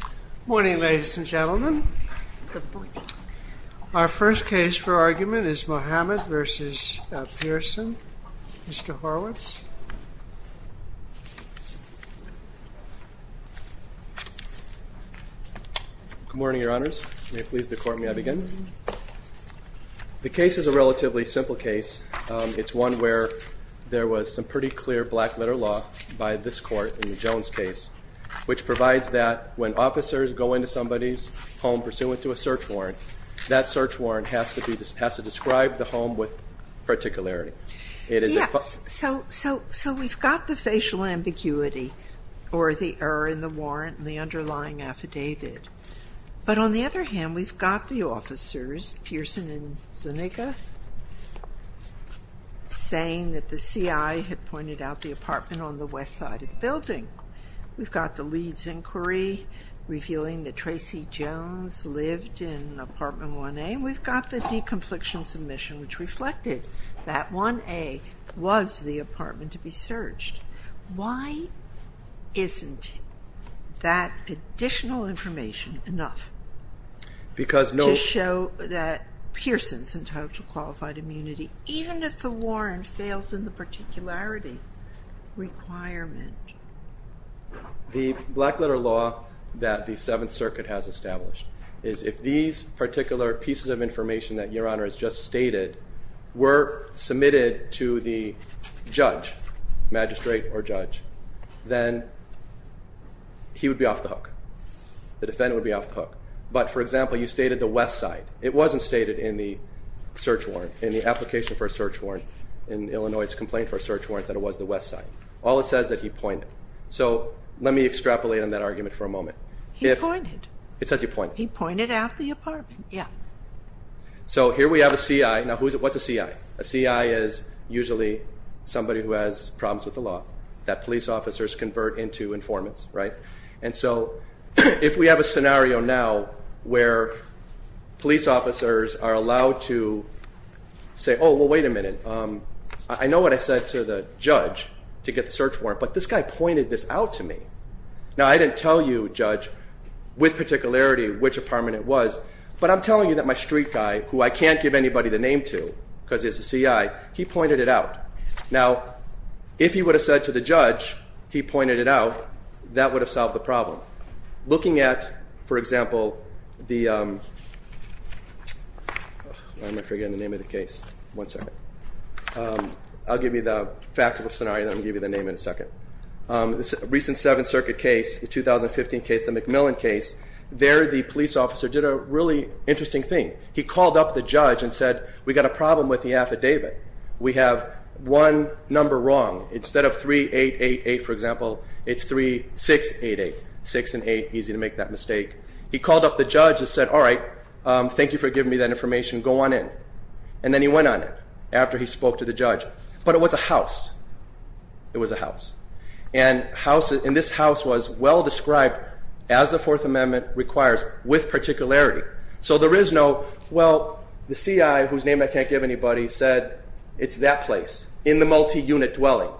Good morning, ladies and gentlemen. Our first case for argument is Muhammad v. Del Pearson, Mr. Horowitz. Good morning, Your Honors. May it please the Court, may I begin? The case is a relatively simple case. It's one where there was some pretty clear black-letter law by this Court in the Jones case, which provides that when officers go into somebody's home pursuant to a search warrant, that search warrant has to describe the home with particularity. Yes, so we've got the facial ambiguity or the error in the warrant and the underlying affidavit. But on the other hand, we've got the officers, Pearson and Zuniga, saying that the CI had pointed out the apartment on the west side of the building. We've got the Leeds inquiry revealing that Tracy Jones lived in apartment 1A. We've got the deconfliction submission, which reflected that 1A was the apartment to be searched. Why isn't that additional information enough to show that Pearson's entitled to qualified immunity, even if the warrant fails in the particularity requirement? The black-letter law that the Seventh Circuit has established is if these particular pieces of information that Your Honor has just stated were submitted to the judge, magistrate or judge, then he would be off the hook. The defendant would be off the hook. But for example, you stated the west side. It wasn't stated in the search warrant, in the application for a search warrant, in Illinois' complaint for a search warrant, that it was the west side. All it says is that he pointed. So let me extrapolate on that argument for a moment. He pointed. It says he pointed. He pointed out the apartment, yes. So here we have a CI. Now what's a CI? A CI is usually somebody who has problems with the law that police officers convert into informants, right? And so if we have a scenario now where police officers are allowed to say, oh, well, wait a minute. I know what I said to the judge to get the search warrant, but this guy pointed this out to me. Now, I didn't tell you, judge, with particularity, which apartment it was. But I'm telling you that my street guy, who I can't give anybody the name to because he's a CI, he pointed it out. Now, if he would have said to the judge he pointed it out, that would have solved the problem. Looking at, for example, the, I'm going to forget the name of the case. One second. I'll give you the factual scenario and then I'll give you the name in a second. The recent Seventh Circuit case, the 2015 case, the McMillan case, there the police officer did a really interesting thing. He called up the judge and said, we've got a problem with the affidavit. We have one number wrong. Instead of 3888, for example, it's 3688. Six and eight, easy to make that mistake. He called up the judge and said, all right, thank you for giving me that information. Go on in. And then he went on it after he spoke to the judge. But it was a house. It was a house. And this house was well described as the Fourth Amendment requires with particularity. So there is no, well, the CI, whose name I can't give anybody, said it's that place in the multi-unit dwelling,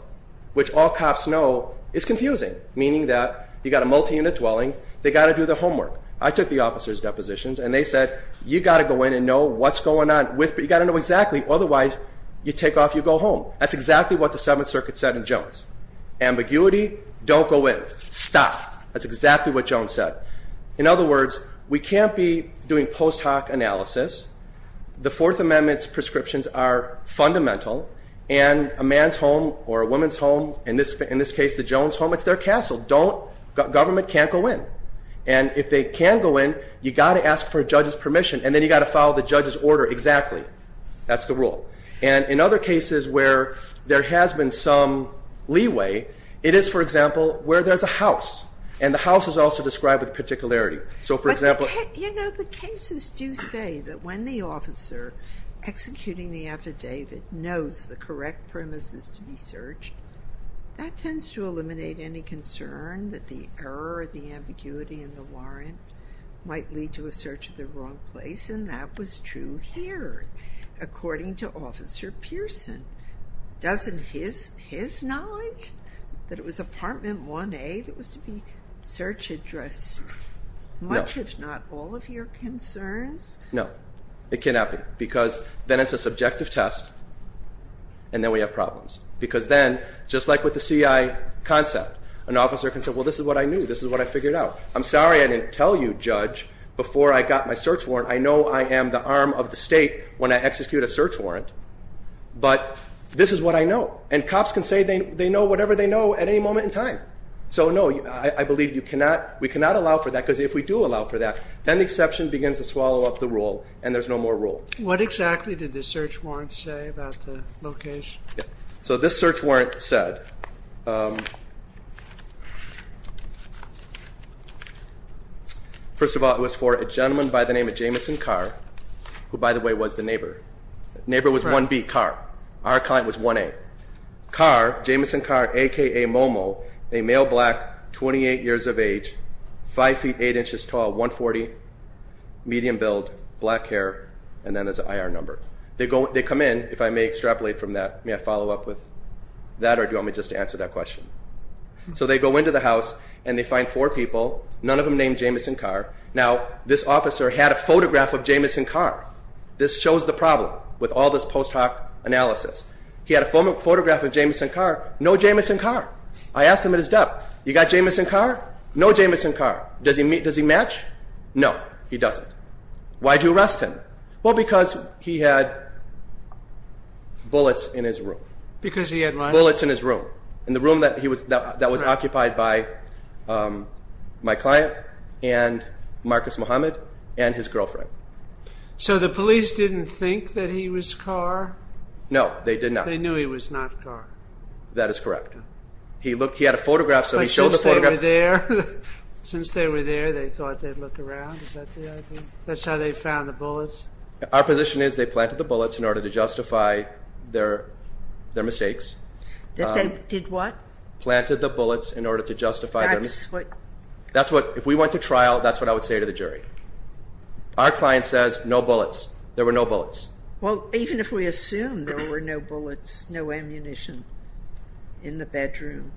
which all cops know is confusing, meaning that you've got a multi-unit dwelling. They've got to do the homework. I took the officer's depositions and they said, you've got to go in and know what's going on. You've got to know exactly. Otherwise, you take off, you go home. That's exactly what the Seventh Circuit said in Jones. Ambiguity, don't go in. Stop. That's exactly what Jones said. In other words, we can't be doing post hoc analysis. The Fourth Amendment's prescriptions are fundamental. And a man's home or a woman's home, in this case the Jones home, it's their castle. Don't, government can't go in. And if they can go in, you've got to ask for a judge's permission. And then you've got to follow the judge's order exactly. That's the rule. And in other cases where there has been some leeway, it is, for example, where there's a house. And the house is also described with particularity. So, for example... But, you know, the cases do say that when the officer executing the affidavit knows the correct premises to be searched, that tends to eliminate any concern that the error or the ambiguity in the warrant might lead to a search of the wrong place. And that was true here, according to Officer Pearson. Doesn't his knowledge that it was Apartment 1A that was to be search addressed much, if not all, of your concerns? No. It cannot be. Because then it's a subjective test, and then we have problems. Because then, just like with the CI concept, an officer can say, well, this is what I knew. This is what I figured out. I'm sorry I didn't tell you, Judge, before I got my search warrant. I know I am the arm of the state when I execute a search warrant. But this is what I know. And cops can say they know whatever they know at any moment in time. So, no, I believe we cannot allow for that. Because if we do allow for that, then the exception begins to swallow up the rule, and there's no more rule. What exactly did the search warrant say about the location? So this search warrant said... First of all, it was for a gentleman by the name of Jameson Carr, who, by the way, was the neighbor. Neighbor was 1B, Carr. Our client was 1A. Carr, Jameson Carr, a.k.a. Momo, a male black, 28 years of age, 5 feet 8 inches tall, 140, medium build, black hair, and then there's an IR number. They come in, if I may extrapolate from that, may I follow up with that, or do you want me just to answer that question? So they go into the house, and they find four people, none of them named Jameson Carr. Now, this officer had a photograph of Jameson Carr. This shows the problem with all this post hoc analysis. He had a photograph of Jameson Carr. No Jameson Carr. I asked him at his desk, you got Jameson Carr? No Jameson Carr. Does he match? No, he doesn't. Why did you arrest him? Well, because he had bullets in his room. Because he had what? Bullets in his room, in the room that was occupied by my client and Marcus Muhammad and his girlfriend. So the police didn't think that he was Carr? No, they did not. They knew he was not Carr. That is correct. He had a photograph, so he showed the photograph. Since they were there, they thought they'd look around, is that the idea? That's how they found the bullets? Our position is they planted the bullets in order to justify their mistakes. They did what? Planted the bullets in order to justify their mistakes. That's what? If we went to trial, that's what I would say to the jury. Our client says, no bullets. There were no bullets. Well, even if we assume there were no bullets, no ammunition in the bedroom,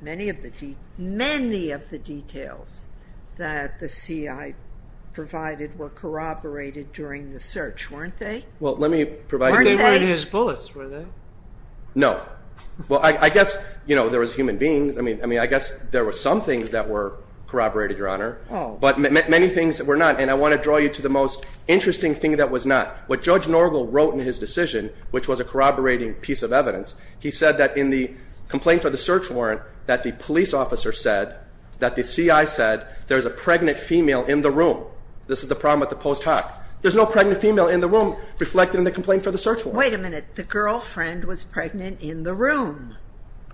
many of the details that the CI provided were corroborated during the search, weren't they? Well, let me provide... Weren't they? They weren't his bullets, were they? No. Well, I guess, you know, there was human beings. I mean, I guess there were some things that were corroborated, Your Honor. Oh. But many things were not, and I want to draw you to the most interesting thing that was not. What Judge Norgel wrote in his decision, which was a corroborating piece of evidence, he said that in the complaint for the search warrant that the police officer said, that the CI said, there's a pregnant female in the room. This is the problem with the post hoc. There's no pregnant female in the room reflected in the complaint for the search warrant. Wait a minute. The girlfriend was pregnant in the room.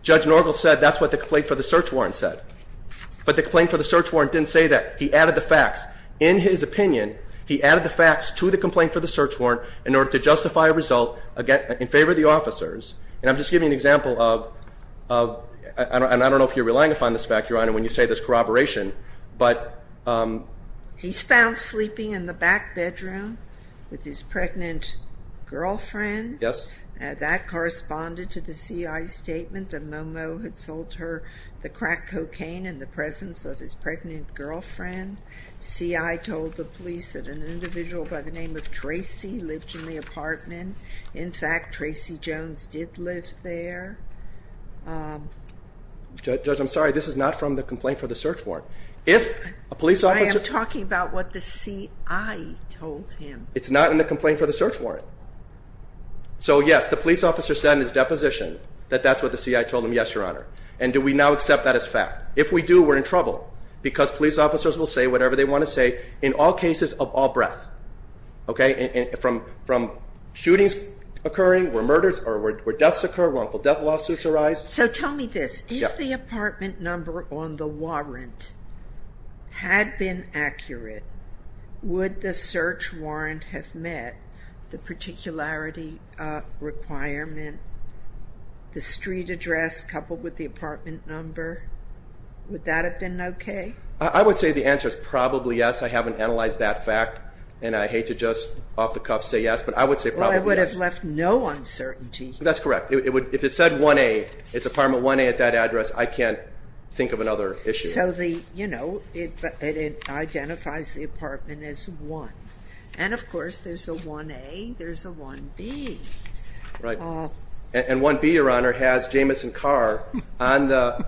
Judge Norgel said that's what the complaint for the search warrant said. But the complaint for the search warrant didn't say that. He added the facts. In his opinion, he added the facts to the complaint for the search warrant in order to justify a result in favor of the officers. And I'm just giving you an example of, and I don't know if you're relying upon this fact, Your Honor, when you say there's corroboration, but... He's found sleeping in the back bedroom with his pregnant girlfriend. Yes. That corresponded to the CI's statement that Momo had sold her the crack cocaine in the presence of his pregnant girlfriend. CI told the police that an individual by the name of Tracy lived in the apartment. In fact, Tracy Jones did live there. Judge, I'm sorry. This is not from the complaint for the search warrant. If a police officer... I am talking about what the CI told him. It's not in the complaint for the search warrant. So, yes, the police officer said in his deposition that that's what the CI told him. Yes, Your Honor. And do we now accept that as fact? If we do, we're in trouble because police officers will say whatever they want to say in all cases of all breadth. Okay? From shootings occurring, where murders or where deaths occur, wrongful death lawsuits arise. So tell me this. If the apartment number on the warrant had been accurate, would the search warrant have met the particularity requirement, the street address coupled with the apartment number? Would that have been okay? I would say the answer is probably yes. I haven't analyzed that fact, and I hate to just off the cuff say yes, but I would say probably yes. Well, it would have left no uncertainty. That's correct. If it said 1A, it's apartment 1A at that address, I can't think of another issue. So, you know, it identifies the apartment as 1. And, of course, there's a 1A, there's a 1B. And 1B, Your Honor, has Jamison Carr on the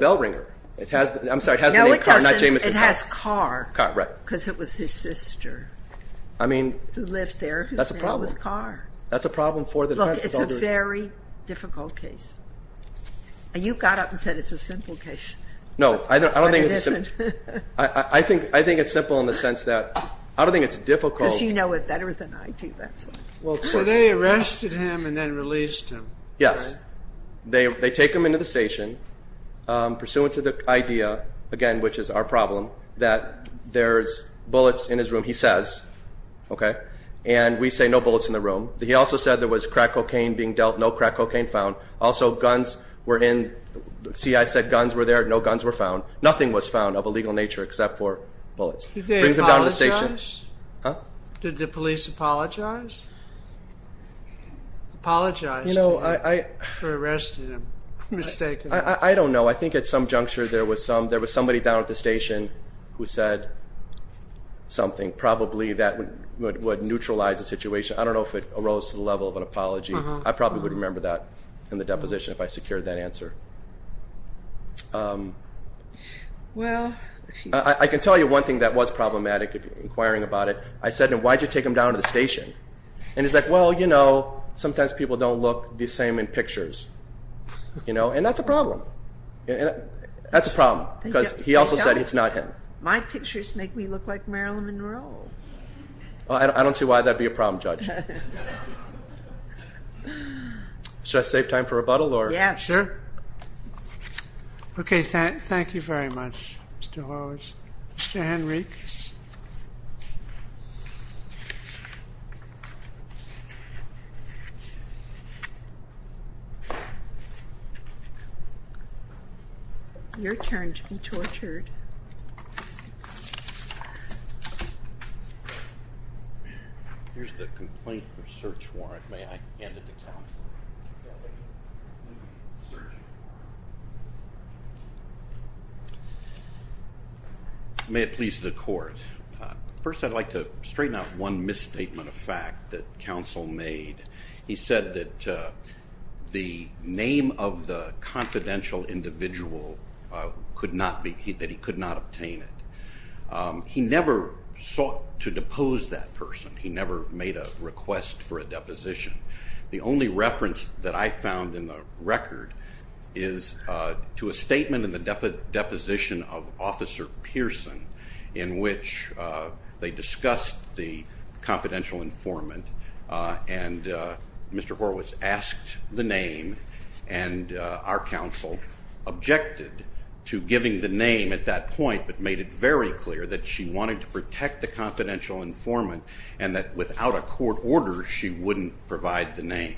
bell ringer. I'm sorry, it has the name Carr, not Jamison. No, it doesn't. It has Carr because it was his sister who lived there. That's a problem. Her name was Carr. That's a problem for the defense. Look, it's a very difficult case. You got up and said it's a simple case. No, I don't think it's simple. I think it's simple in the sense that I don't think it's difficult. Because you know it better than I do, that's why. So they arrested him and then released him. Yes. They take him into the station, pursuant to the idea, again, which is our problem, that there's bullets in his room, he says, okay, and we say no bullets in the room. He also said there was crack cocaine being dealt, no crack cocaine found. Also, guns were in. The CIA said guns were there. No guns were found. Nothing was found of a legal nature except for bullets. Did they apologize? Huh? Did the police apologize? Apologize to him for arresting him? I don't know. I think at some juncture there was somebody down at the station who said something. I don't know if it arose to the level of an apology. I probably would remember that in the deposition if I secured that answer. I can tell you one thing that was problematic, inquiring about it. I said to him, why did you take him down to the station? And he's like, well, you know, sometimes people don't look the same in pictures. And that's a problem. That's a problem. Because he also said it's not him. My pictures make me look like Marilyn Monroe. I don't see why that would be a problem, Judge. Should I save time for rebuttal? Yes. Sure. Okay. Thank you very much, Mr. Lawrence. Your turn to be tortured. Your turn to be tortured. Here's the complaint research warrant. May I hand it to counsel? May it please the court. First, I'd like to straighten out one misstatement of fact that counsel made. He said that the name of the confidential individual, that he could not obtain it. He never sought to depose that person. He never made a request for a deposition. The only reference that I found in the record is to a statement in the deposition of Officer Pearson in which they discussed the confidential informant. And Mr. Horowitz asked the name, and our counsel objected to giving the name at that point but made it very clear that she wanted to protect the confidential informant and that without a court order she wouldn't provide the name.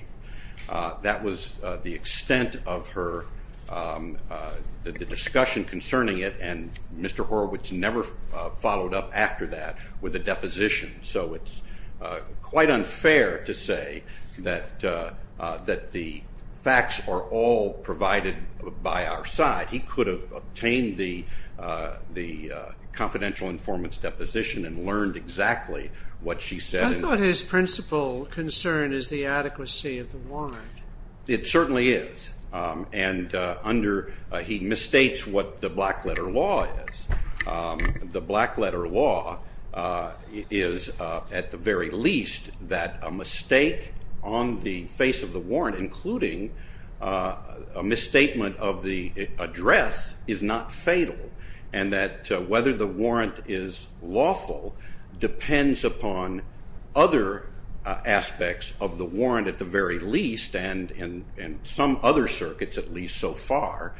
That was the extent of her, the discussion concerning it, and Mr. Horowitz never followed up after that with a deposition. So it's quite unfair to say that the facts are all provided by our side. He could have obtained the confidential informant's deposition and learned exactly what she said. I thought his principal concern is the adequacy of the warrant. It certainly is, and he misstates what the black letter law is. The black letter law is at the very least that a mistake on the face of the warrant, including a misstatement of the address, is not fatal, and that whether the warrant is lawful depends upon other aspects of the warrant at the very least and some other circuits at least so far.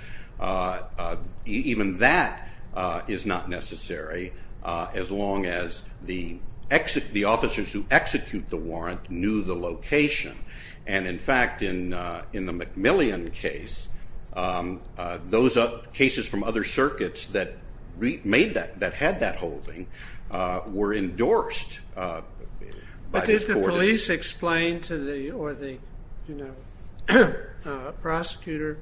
Even that is not necessary as long as the officers who execute the warrant knew the location. In fact, in the McMillian case, those cases from other circuits that had that holding were endorsed. But did the police explain to the prosecutor,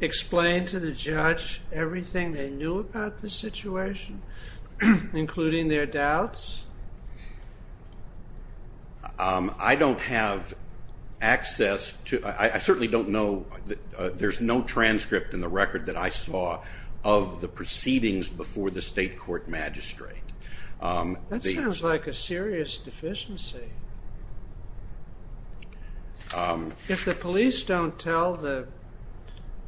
explain to the judge everything they knew about the situation, including their doubts? I don't have access to, I certainly don't know, there's no transcript in the record that I saw of the proceedings before the state court magistrate. That sounds like a serious deficiency. If the police don't tell the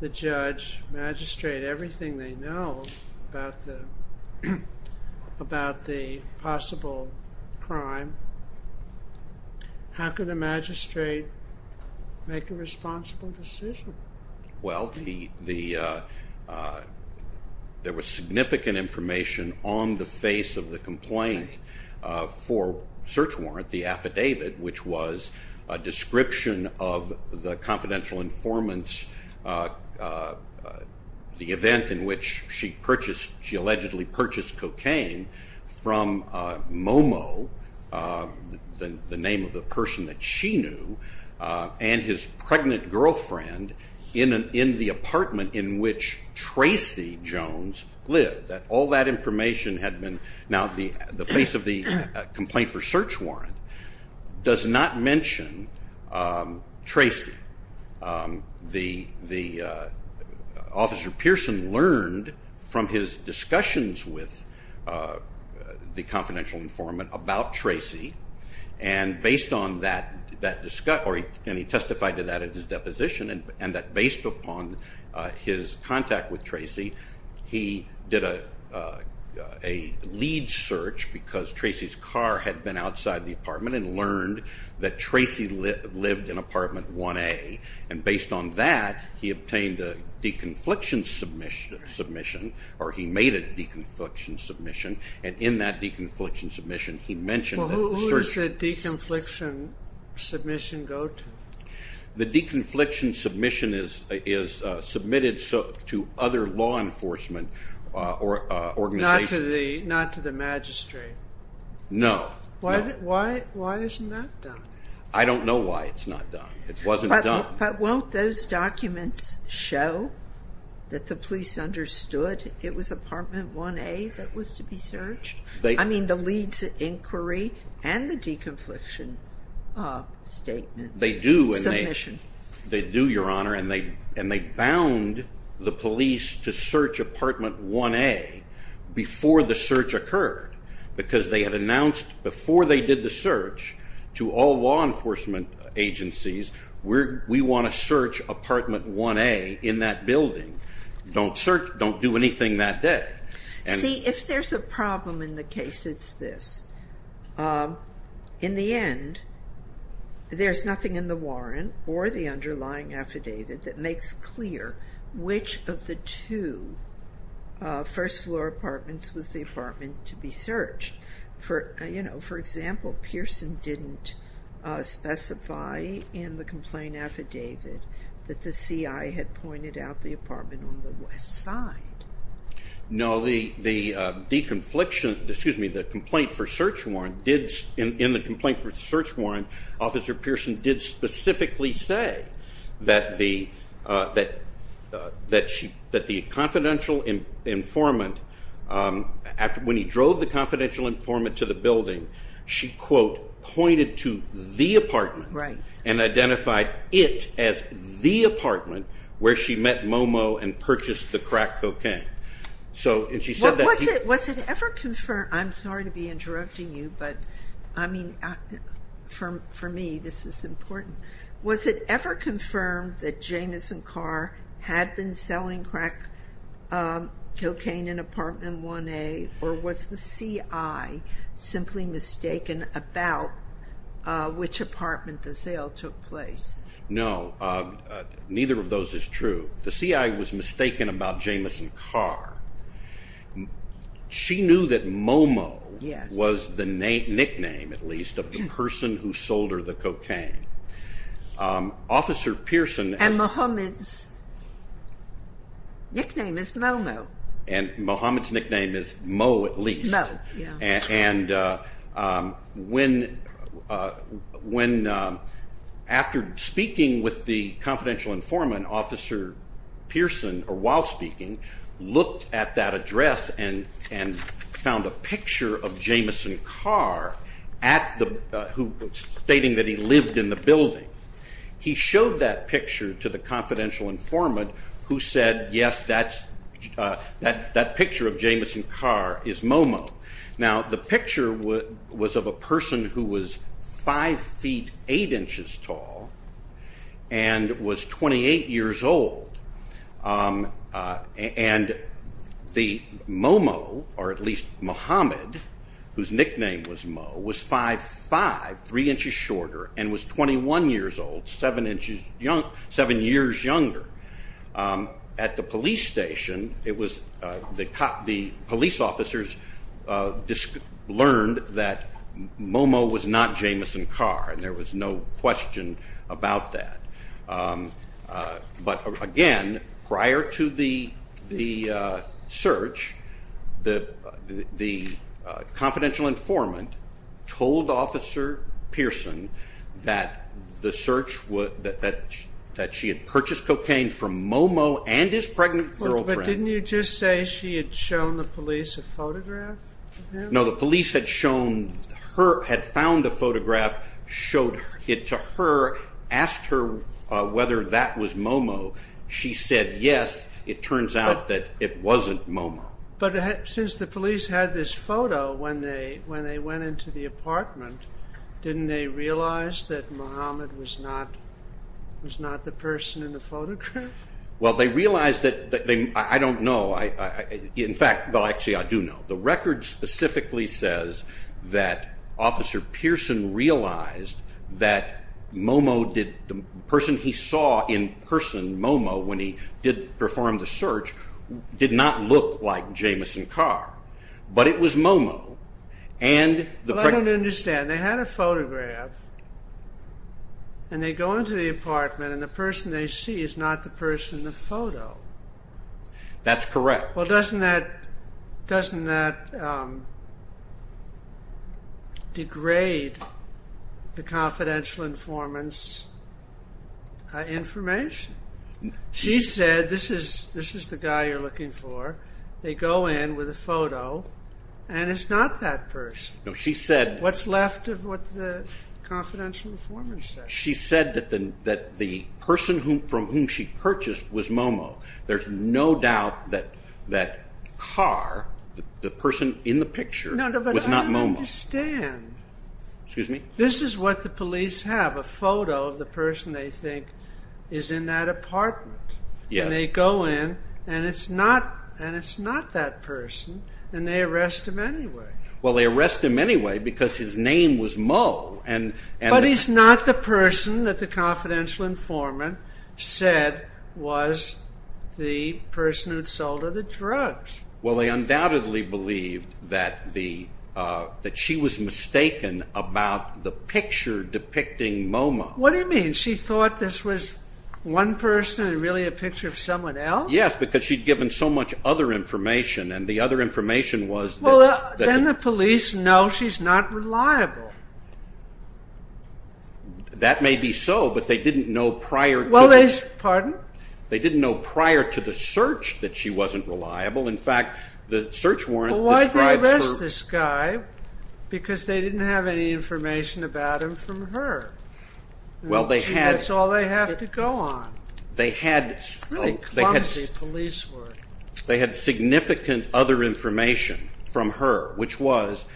judge, magistrate, everything they know about the possible crime, how can the magistrate make a responsible decision? Well, there was significant information on the face of the complaint for search warrant, the affidavit, which was a description of the confidential informants, the event in which she allegedly purchased cocaine from Momo, the name of the person that she knew, and his pregnant girlfriend in the apartment in which Tracy Jones lived. All that information had been, now the face of the complaint for search warrant does not mention Tracy. The officer Pearson learned from his discussions with the confidential informant about Tracy and based on that, and he testified to that in his deposition, and that based upon his contact with Tracy, he did a lead search because Tracy's car had been outside the apartment and learned that Tracy lived in apartment 1A. And based on that, he obtained a deconfliction submission, or he made a deconfliction submission, and in that deconfliction submission, he mentioned the search warrant. Who does the deconfliction submission go to? The deconfliction submission is submitted to other law enforcement organizations. Not to the magistrate? No. Why isn't that done? I don't know why it's not done. It wasn't done. But won't those documents show that the police understood it was apartment 1A that was to be searched? I mean the leads inquiry and the deconfliction statement. They do, Your Honor, and they bound the police to search apartment 1A before the search occurred because they had announced before they did the search to all law enforcement agencies, we want to search apartment 1A in that building. Don't do anything that day. See, if there's a problem in the case, it's this. In the end, there's nothing in the warrant or the underlying affidavit that makes clear which of the two first-floor apartments was the apartment to be searched. For example, Pearson didn't specify in the complaint affidavit that the CI had pointed out the apartment on the west side. No, in the complaint for search warrant, Officer Pearson did specifically say that the confidential informant, when he drove the confidential informant to the building, she, quote, pointed to the apartment and identified it as the apartment where she met Momo and purchased the crack cocaine. Was it ever confirmed? I'm sorry to be interrupting you, but, I mean, for me, this is important. Was it ever confirmed that Jamison Carr had been selling crack cocaine in apartment 1A, or was the CI simply mistaken about which apartment the sale took place? No, neither of those is true. The CI was mistaken about Jamison Carr. She knew that Momo was the nickname, at least, of the person who sold her the cocaine. And Mohammed's nickname is Momo. And Mohammed's nickname is Mo, at least. And when, after speaking with the confidential informant, Officer Pearson, while speaking, looked at that address and found a picture of Jamison Carr stating that he lived in the building, he showed that picture to the confidential informant who said, yes, that picture of Jamison Carr is Momo. Now, the picture was of a person who was 5 feet 8 inches tall and was 28 years old. And the Momo, or at least Mohammed, whose nickname was Mo, was 5'5", 3 inches shorter, and was 21 years old, 7 years younger. At the police station, the police officers learned that Momo was not Jamison Carr, and there was no question about that. But again, prior to the search, the confidential informant told Officer Pearson that she had purchased cocaine from Momo and his pregnant girlfriend. But didn't you just say she had shown the police a photograph of him? No, the police had found a photograph, showed it to her, asked her whether that was Momo. She said yes. It turns out that it wasn't Momo. But since the police had this photo, when they went into the apartment, didn't they realize that Mohammed was not the person in the photograph? Well, they realized that they, I don't know. In fact, well, actually, I do know. The record specifically says that Officer Pearson realized that Momo, the person he saw in person, Momo, when he performed the search, did not look like Jamison Carr. But it was Momo. Well, I don't understand. They had a photograph, and they go into the apartment, and the person they see is not the person in the photo. That's correct. Well, doesn't that degrade the confidential informant's information? She said, this is the guy you're looking for. They go in with a photo, and it's not that person. No, she said. What's left of what the confidential informant said. She said that the person from whom she purchased was Momo. There's no doubt that Carr, the person in the picture, was not Momo. No, but I don't understand. Excuse me? This is what the police have, a photo of the person they think is in that apartment. Yes. And they go in, and it's not that person. And they arrest him anyway. Well, they arrest him anyway because his name was Mo. But he's not the person that the confidential informant said was the person who sold her the drugs. Well, they undoubtedly believed that she was mistaken about the picture depicting Momo. What do you mean? She thought this was one person and really a picture of someone else? Yes, because she'd given so much other information, and the other information was that... That may be so, but they didn't know prior to... Well, they... Pardon? They didn't know prior to the search that she wasn't reliable. In fact, the search warrant describes her... Well, why did they arrest this guy? Because they didn't have any information about him from her. Well, they had... That's all they have to go on. They had... Really clumsy police work. They had significant other information from her, which was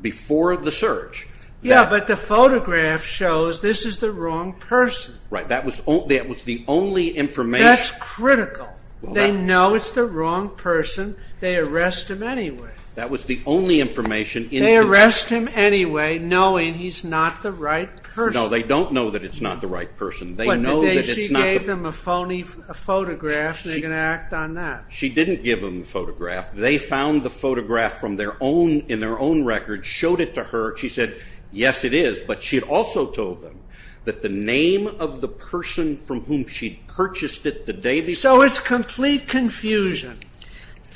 before the search. Yes, but the photograph shows this is the wrong person. Right. That was the only information... That's critical. Well, that... They know it's the wrong person. They arrest him anyway. That was the only information in... They arrest him anyway, knowing he's not the right person. No, they don't know that it's not the right person. They know that it's not the... But she gave them a phony photograph, and they're going to act on that. She didn't give them the photograph. They found the photograph in their own record, showed it to her. She said, yes, it is. But she had also told them that the name of the person from whom she'd purchased it the day before... So it's complete confusion.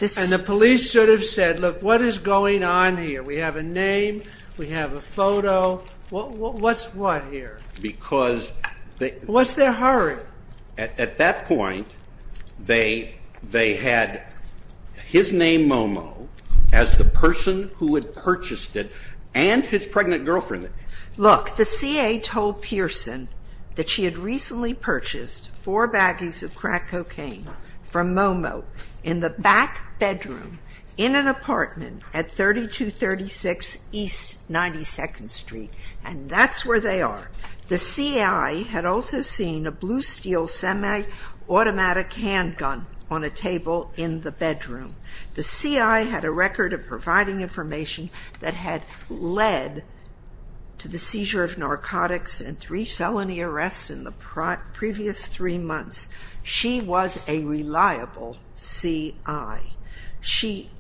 And the police should have said, look, what is going on here? We have a name. We have a photo. What's what here? Because... What's their hurry? At that point, they had his name, Momo, as the person who had purchased it and his pregnant girlfriend. Look, the C.A. told Pearson that she had recently purchased four baggies of crack cocaine from Momo in the back bedroom in an apartment at 3236 East 92nd Street. And that's where they are. The C.I. had also seen a blue steel semi-automatic handgun on a table in the bedroom. The C.I. had a record of providing information that had led to the seizure of narcotics and three felony arrests in the previous three months. She was a reliable C.I. She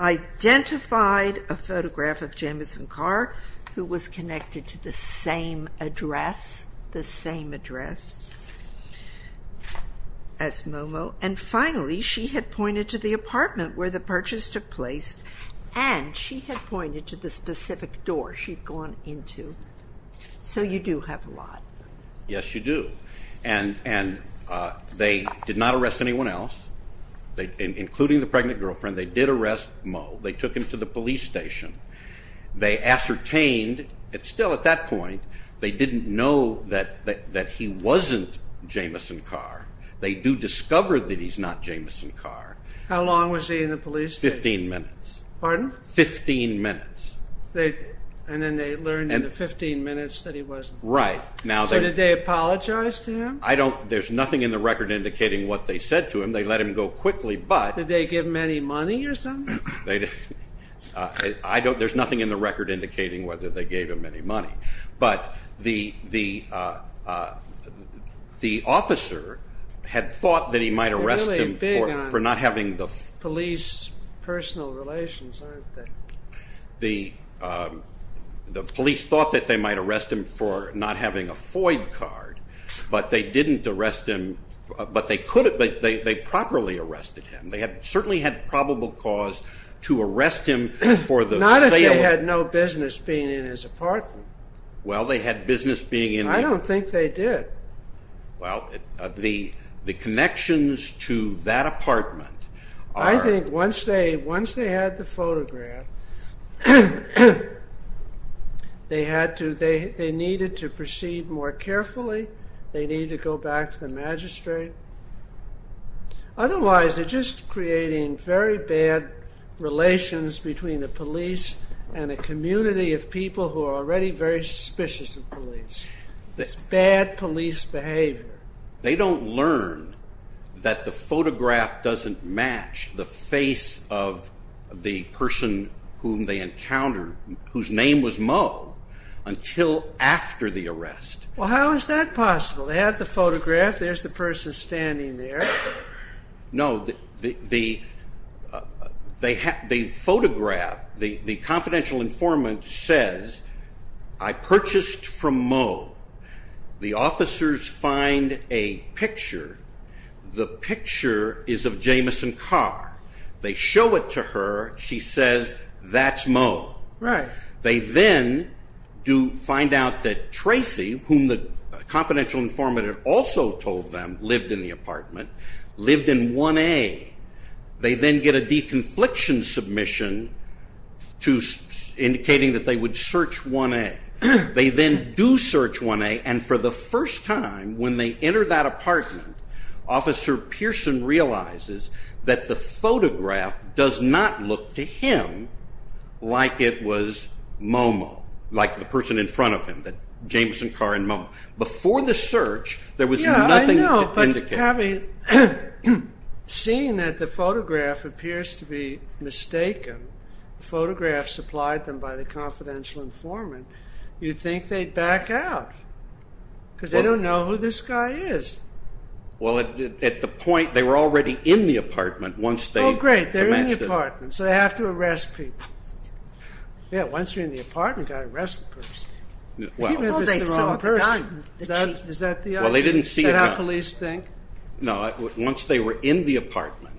identified a photograph of Jamison Carr, who was connected to the same address, the same address as Momo. And finally, she had pointed to the apartment where the purchase took place, and she had pointed to the specific door she'd gone into. So you do have a lot. Yes, you do. And they did not arrest anyone else, including the pregnant girlfriend. They did arrest Momo. They took him to the police station. They ascertained, still at that point, they didn't know that he wasn't Jamison Carr. They do discover that he's not Jamison Carr. How long was he in the police station? Fifteen minutes. Pardon? Fifteen minutes. And then they learned in the fifteen minutes that he wasn't. Right. So did they apologize to him? There's nothing in the record indicating what they said to him. They let him go quickly, but... Did they give him any money or something? There's nothing in the record indicating whether they gave him any money. But the officer had thought that he might arrest him for not having the... They're really big on police personal relations, aren't they? The police thought that they might arrest him for not having a FOID card, but they didn't arrest him. But they properly arrested him. They certainly had probable cause to arrest him for the sale of... Not if they had no business being in his apartment. Well, they had business being in... I don't think they did. Well, the connections to that apartment are... I think once they had the photograph, they needed to proceed more carefully. They needed to go back to the magistrate. Otherwise, they're just creating very bad relations between the police and a community of people who are already very suspicious of police. It's bad police behavior. They don't learn that the photograph doesn't match the face of the person whom they encountered, whose name was Mo, until after the arrest. Well, how is that possible? They have the photograph. There's the person standing there. No, the photograph, the confidential informant says, I purchased from Mo. The officers find a picture. The picture is of Jameson Carr. They show it to her. She says, that's Mo. They then find out that Tracy, whom the confidential informant had also told them lived in the apartment, lived in 1A. They then get a deconfliction submission indicating that they would search 1A. They then do search 1A, and for the first time, when they enter that apartment, Officer Pearson realizes that the photograph does not look to him like it was Momo, like the person in front of him, Jameson Carr and Momo. Before the search, there was nothing to indicate. Yeah, I know, but having seen that the photograph appears to be mistaken, the photograph supplied to them by the confidential informant, you'd think they'd back out because they don't know who this guy is. Well, at the point, they were already in the apartment once they matched it. Oh, great, they're in the apartment, so they have to arrest people. Yeah, once you're in the apartment, you've got to arrest the person. Even if it's their own person. Is that the idea? Well, they didn't see it. Is that how police think? No, once they were in the apartment.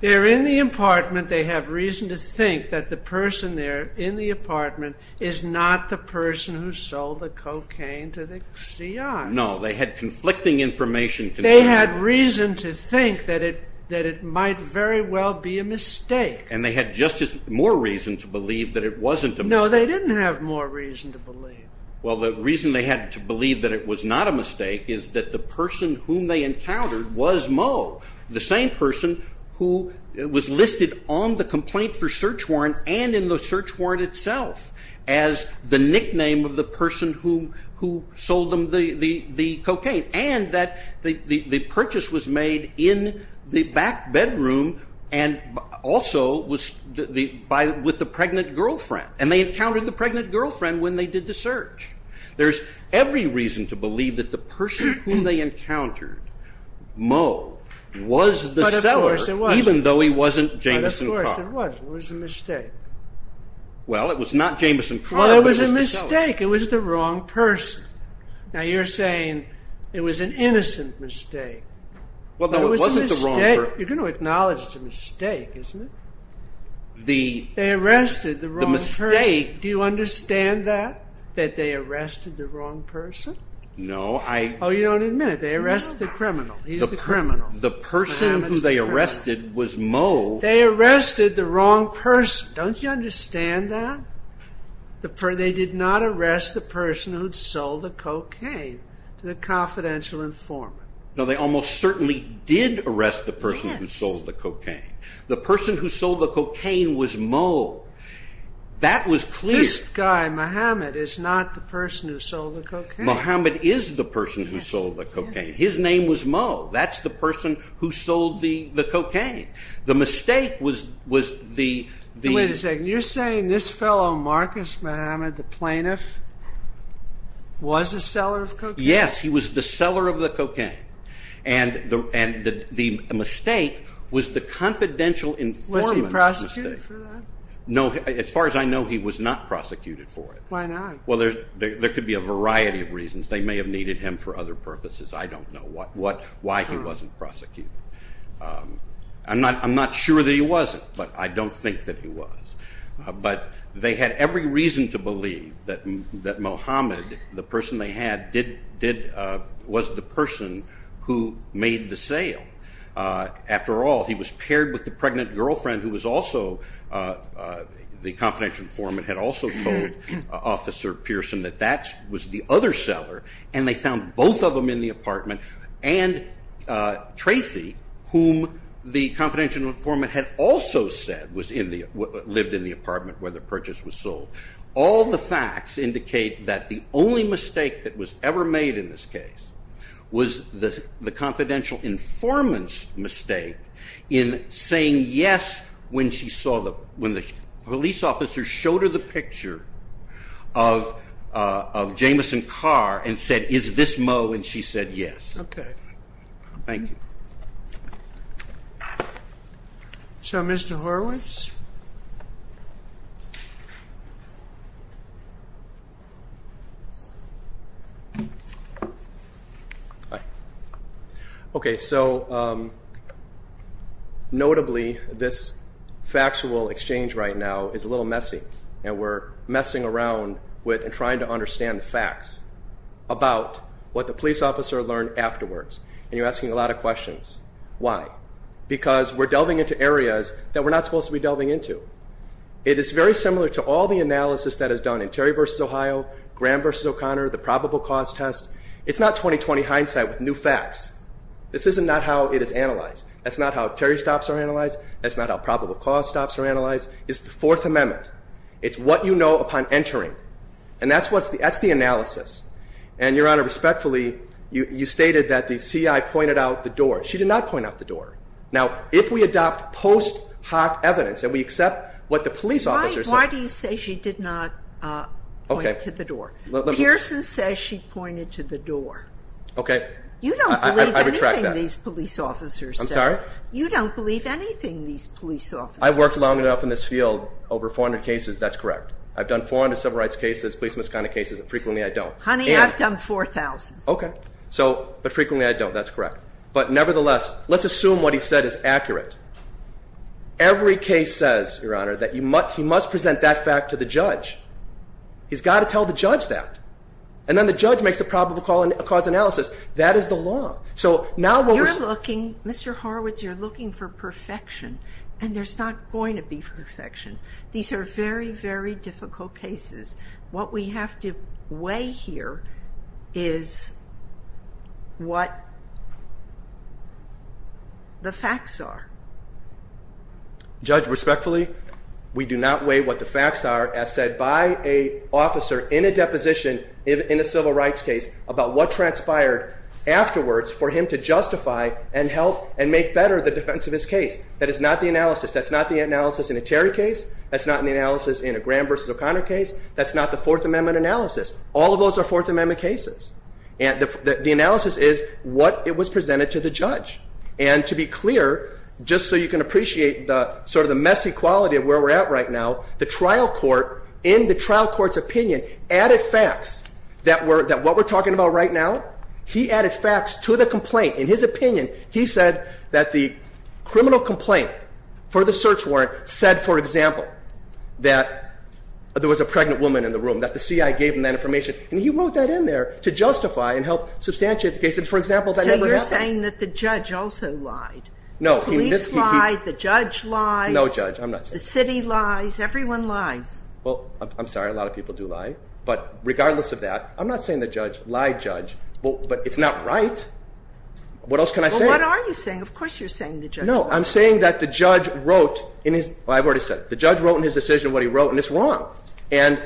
They're in the apartment. They have reason to think that the person there in the apartment is not the person who sold the cocaine to the CIA. No, they had conflicting information. They had reason to think that it might very well be a mistake. And they had just as more reason to believe that it wasn't a mistake. No, they didn't have more reason to believe. Well, the reason they had to believe that it was not a mistake is that the person whom they encountered was Momo, the same person who was listed on the complaint for search warrant and in the search warrant itself as the nickname of the person who sold them the cocaine, and that the purchase was made in the back bedroom and also with the pregnant girlfriend. And they encountered the pregnant girlfriend when they did the search. There's every reason to believe that the person whom they encountered, Momo, was the seller, even though he wasn't Jameson Carr. But of course it wasn't. It was a mistake. Well, it was not Jameson Carr, but it was the seller. Well, it was a mistake. It was the wrong person. Now, you're saying it was an innocent mistake. Well, no, it wasn't the wrong person. You're going to acknowledge it's a mistake, isn't it? They arrested the wrong person. Do you understand that, that they arrested the wrong person? No, I... Oh, you don't admit it. They arrested the criminal. He's the criminal. The person whom they arrested was Momo. They arrested the wrong person. Don't you understand that? They did not arrest the person who'd sold the cocaine to the confidential informant. No, they almost certainly did arrest the person who sold the cocaine. The person who sold the cocaine was Momo. That was clear. This guy, Mohammed, is not the person who sold the cocaine. Mohammed is the person who sold the cocaine. His name was Mo. That's the person who sold the cocaine. The mistake was the... Wait a second. You're saying this fellow, Marcus Mohammed, the plaintiff, was the seller of cocaine? Yes, he was the seller of the cocaine. And the mistake was the confidential informant's mistake. Was he prosecuted for that? No, as far as I know, he was not prosecuted for it. Why not? Well, there could be a variety of reasons. They may have needed him for other purposes. I don't know why he wasn't prosecuted. I'm not sure that he wasn't, but I don't think that he was. But they had every reason to believe that Mohammed, the person they had, was the person who made the sale. After all, he was paired with the pregnant girlfriend who was also, the confidential informant had also told Officer Pearson that that was the other seller, and they found both of them in the apartment, and Tracy, whom the confidential informant had also said lived in the apartment where the purchase was sold. All the facts indicate that the only mistake that was ever made in this case was the confidential informant's mistake in saying yes when she saw the police officer showed her the picture of Jameson Carr and said, is this Moe? And she said yes. Okay. Thank you. So Mr. Horowitz? Hi. Okay, so notably this factual exchange right now is a little messy, and we're messing around with and trying to understand the facts about what the police officer learned afterwards, and you're asking a lot of questions. Why? Because we're delving into areas that we're not supposed to be delving into. It is very similar to all the analysis that is done in Terry v. Ohio, Graham v. O'Connor, the probable cause test. It's not 20-20 hindsight with new facts. This is not how it is analyzed. That's not how Terry stops are analyzed. That's not how probable cause stops are analyzed. It's the Fourth Amendment. It's what you know upon entering, and that's the analysis. And, Your Honor, respectfully, you stated that the C.I. pointed out the door. She did not point out the door. Now, if we adopt post hoc evidence and we accept what the police officer said. Why do you say she did not point to the door? Pearson says she pointed to the door. Okay. You don't believe anything these police officers say. I'm sorry? You don't believe anything these police officers say. I worked long enough in this field, over 400 cases, that's correct. I've done 400 civil rights cases, police misconduct cases, and frequently I don't. Honey, I've done 4,000. Okay. But frequently I don't. That's correct. But nevertheless, let's assume what he said is accurate. Every case says, Your Honor, that he must present that fact to the judge. He's got to tell the judge that. And then the judge makes a probable cause analysis. That is the law. You're looking, Mr. Horowitz, you're looking for perfection. And there's not going to be perfection. These are very, very difficult cases. What we have to weigh here is what the facts are. Judge, respectfully, we do not weigh what the facts are as said by an officer in a deposition in a civil rights case about what transpired afterwards for him to justify and help and make better the defense of his case. That is not the analysis. That's not the analysis in a Terry case. That's not the analysis in a Graham v. O'Connor case. That's not the Fourth Amendment analysis. All of those are Fourth Amendment cases. The analysis is what was presented to the judge. And to be clear, just so you can appreciate sort of the messy quality of where we're at right now, the trial court, in the trial court's opinion, added facts that what we're talking about right now, he added facts to the complaint. In his opinion, he said that the criminal complaint for the search warrant said, for example, that there was a pregnant woman in the room, that the C.I. gave him that information. And he wrote that in there to justify and help substantiate the case. And, for example, that never happened. So you're saying that the judge also lied. No. The police lied. The judge lied. No, Judge, I'm not saying that. The city lies. Everyone lies. Well, I'm sorry. A lot of people do lie. But regardless of that, I'm not saying the judge lied, Judge. But it's not right. What else can I say? Well, what are you saying? Of course you're saying the judge lied. No. I'm saying that the judge wrote in his – well, I've already said it. The judge wrote in his decision what he wrote, and it's wrong. And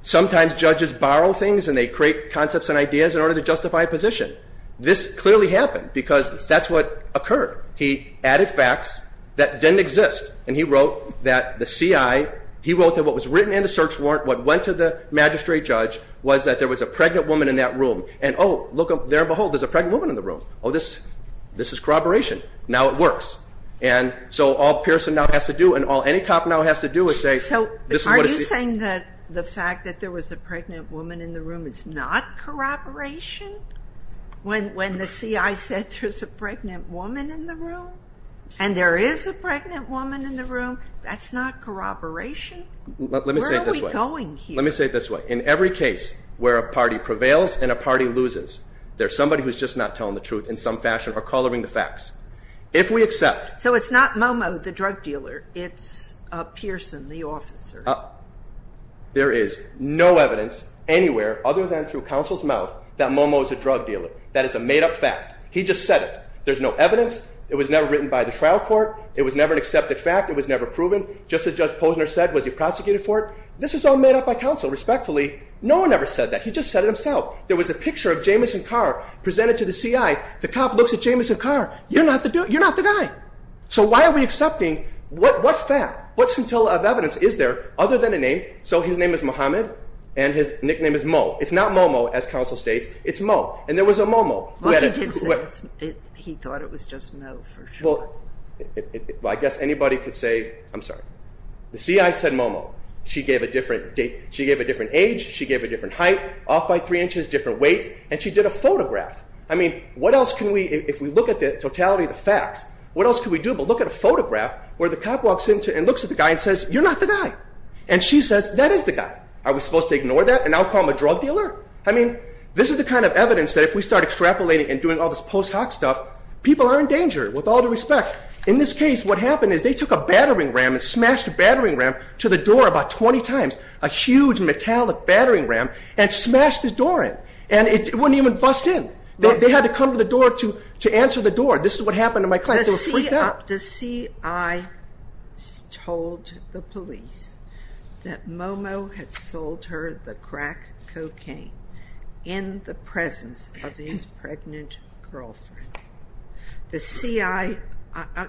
sometimes judges borrow things and they create concepts and ideas in order to justify a position. This clearly happened because that's what occurred. He added facts that didn't exist. And he wrote that the C.I. – he wrote that what was written in the search warrant, what went to the magistrate judge, was that there was a pregnant woman in that room. And, oh, look, there and behold, there's a pregnant woman in the room. Oh, this is corroboration. Now it works. And so all Pearson now has to do and all any cop now has to do is say, this is what a C.I. – So are you saying that the fact that there was a pregnant woman in the room is not corroboration? When the C.I. said there's a pregnant woman in the room and there is a pregnant woman in the room, that's not corroboration? Let me say it this way. Where are we going here? Let me say it this way. In every case where a party prevails and a party loses, there's somebody who's just not telling the truth in some fashion or coloring the facts. If we accept – So it's not Momo, the drug dealer. It's Pearson, the officer. There is no evidence anywhere other than through counsel's mouth that Momo is a drug dealer. That is a made-up fact. He just said it. There's no evidence. It was never written by the trial court. It was never an accepted fact. It was never proven. Just as Judge Posner said, was he prosecuted for it? This was all made up by counsel, respectfully. No one ever said that. He just said it himself. There was a picture of Jameson Carr presented to the C.I. The cop looks at Jameson Carr. You're not the guy. So why are we accepting what fact? What scintilla of evidence is there other than a name? So his name is Muhammad and his nickname is Mo. It's not Momo, as counsel states. It's Mo. And there was a Momo. He did say it. He thought it was just Mo for sure. Well, I guess anybody could say – I'm sorry. The C.I. said Momo. She gave a different age, she gave a different height, off by 3 inches, different weight, and she did a photograph. I mean, what else can we – if we look at the totality of the facts, what else can we do where the cop walks in and looks at the guy and says, you're not the guy. And she says, that is the guy. I was supposed to ignore that and now call him a drug dealer? I mean, this is the kind of evidence that if we start extrapolating and doing all this post hoc stuff, people are in danger with all due respect. In this case, what happened is they took a battering ram and smashed a battering ram to the door about 20 times, a huge metallic battering ram, and smashed the door in. And it wouldn't even bust in. They had to come to the door to answer the door. This is what happened in my class. The CI told the police that Momo had sold her the crack cocaine in the presence of his pregnant girlfriend. The CI –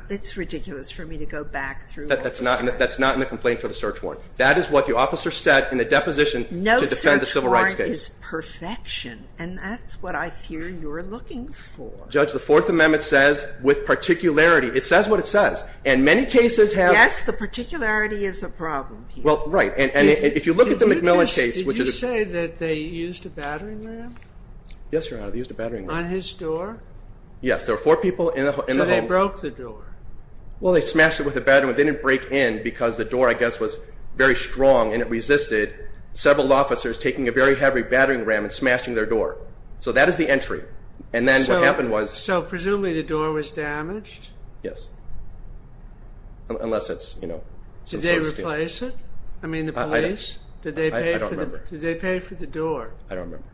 it's ridiculous for me to go back through all this. That's not in the complaint for the search warrant. That is what the officer said in the deposition to defend the civil rights case. No search warrant is perfection, and that's what I fear you're looking for. Judge, the Fourth Amendment says with particularity. It says what it says. And many cases have – Yes, the particularity is a problem here. Well, right. And if you look at the McMillan case, which is – Did you say that they used a battering ram? Yes, Your Honor, they used a battering ram. On his door? Yes. There were four people in the home. So they broke the door? Well, they smashed it with a battering ram. It didn't break in because the door, I guess, was very strong and it resisted several officers taking a very heavy battering ram and smashing their door. So that is the entry. And then what happened was – So presumably the door was damaged? Yes, unless it's, you know – Did they replace it? I mean the police? I don't remember. Did they pay for the door? I don't remember.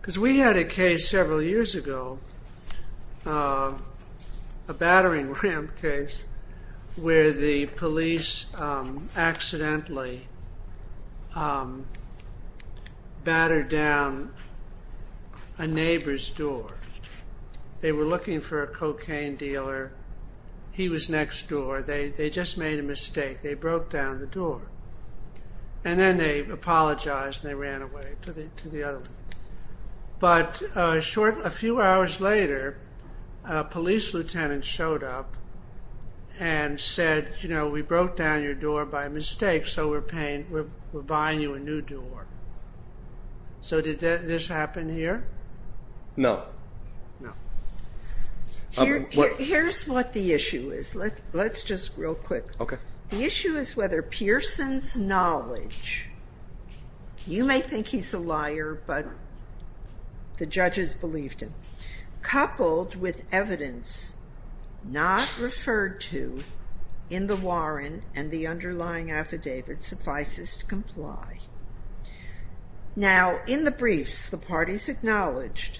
Because we had a case several years ago, a battering ram case, where the police accidentally battered down a neighbor's door. They were looking for a cocaine dealer. He was next door. They just made a mistake. They broke down the door. And then they apologized and they ran away to the other one. But a few hours later, a police lieutenant showed up and said, you know, we broke down your door by mistake, so we're buying you a new door. So did this happen here? No. No. Here's what the issue is. Let's just real quick. Okay. The issue is whether Pearson's knowledge – you may think he's a liar, but the judges believed him – coupled with evidence not referred to in the warrant and the underlying affidavit suffices to comply. Now, in the briefs, the parties acknowledged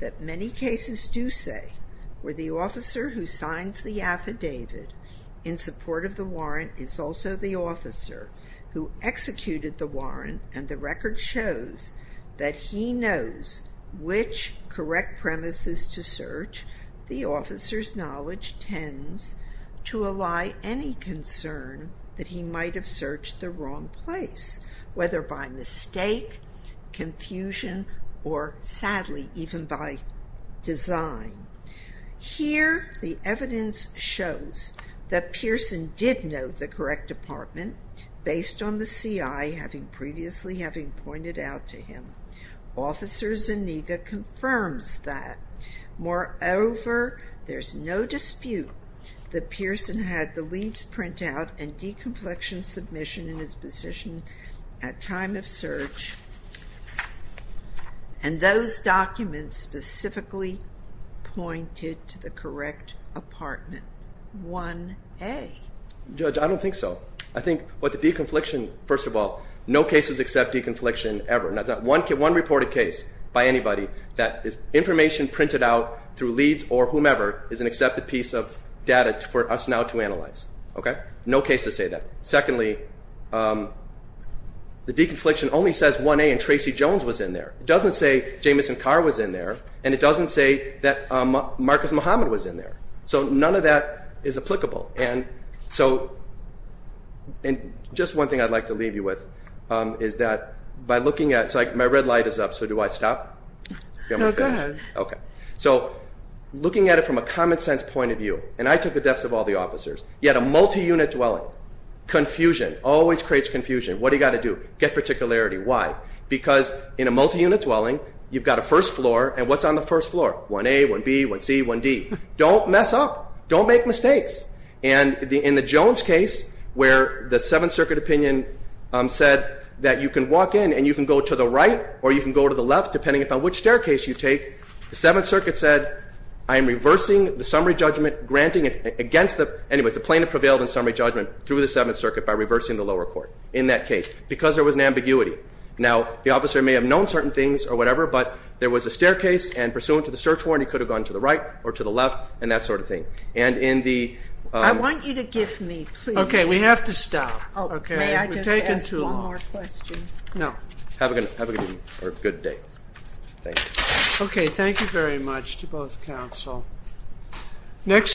that many cases do say where the officer who signs the affidavit in support of the warrant is also the officer who executed the warrant, and the record shows that he knows which correct premises to search. The officer's knowledge tends to ally any concern that he might have searched the wrong place, whether by mistake, confusion, or sadly, even by design. Here, the evidence shows that Pearson did know the correct apartment, based on the CI having previously pointed out to him. Officer Zuniga confirms that. Moreover, there's no dispute that Pearson had the leads print out and deconflection submission in his position at time of search, and those documents specifically pointed to the correct apartment, 1A. Judge, I don't think so. I think with the deconfliction, first of all, no cases accept deconfliction ever. Not one reported case by anybody that information printed out through leads or whomever is an accepted piece of data for us now to analyze. Okay? No cases say that. Secondly, the deconfliction only says 1A and Tracy Jones was in there. It doesn't say Jameson Carr was in there, and it doesn't say that Marcus Muhammad was in there, so none of that is applicable. And so just one thing I'd like to leave you with is that by looking at it, so my red light is up, so do I stop? No, go ahead. Okay. So looking at it from a common sense point of view, and I took the depths of all the officers, you had a multi-unit dwelling. Confusion always creates confusion. What do you got to do? Get particularity. Why? Because in a multi-unit dwelling, you've got a first floor, and what's on the first floor? 1A, 1B, 1C, 1D. Don't mess up. Don't make mistakes. And in the Jones case where the Seventh Circuit opinion said that you can walk in and you can go to the right or you can go to the left, depending upon which staircase you take, the Seventh Circuit said, I am reversing the summary judgment granting against the plaintiff prevailed in summary judgment through the Seventh Circuit by reversing the lower court in that case because there was an ambiguity. Now, the officer may have known certain things or whatever, but there was a staircase and pursuant to the search warrant, he could have gone to the right or to the left and that sort of thing. And in the ‑‑ I want you to give me, please. Okay. We have to stop. May I just ask one more question? No. Have a good day. Thank you. Okay. Thank you very much to both counsel.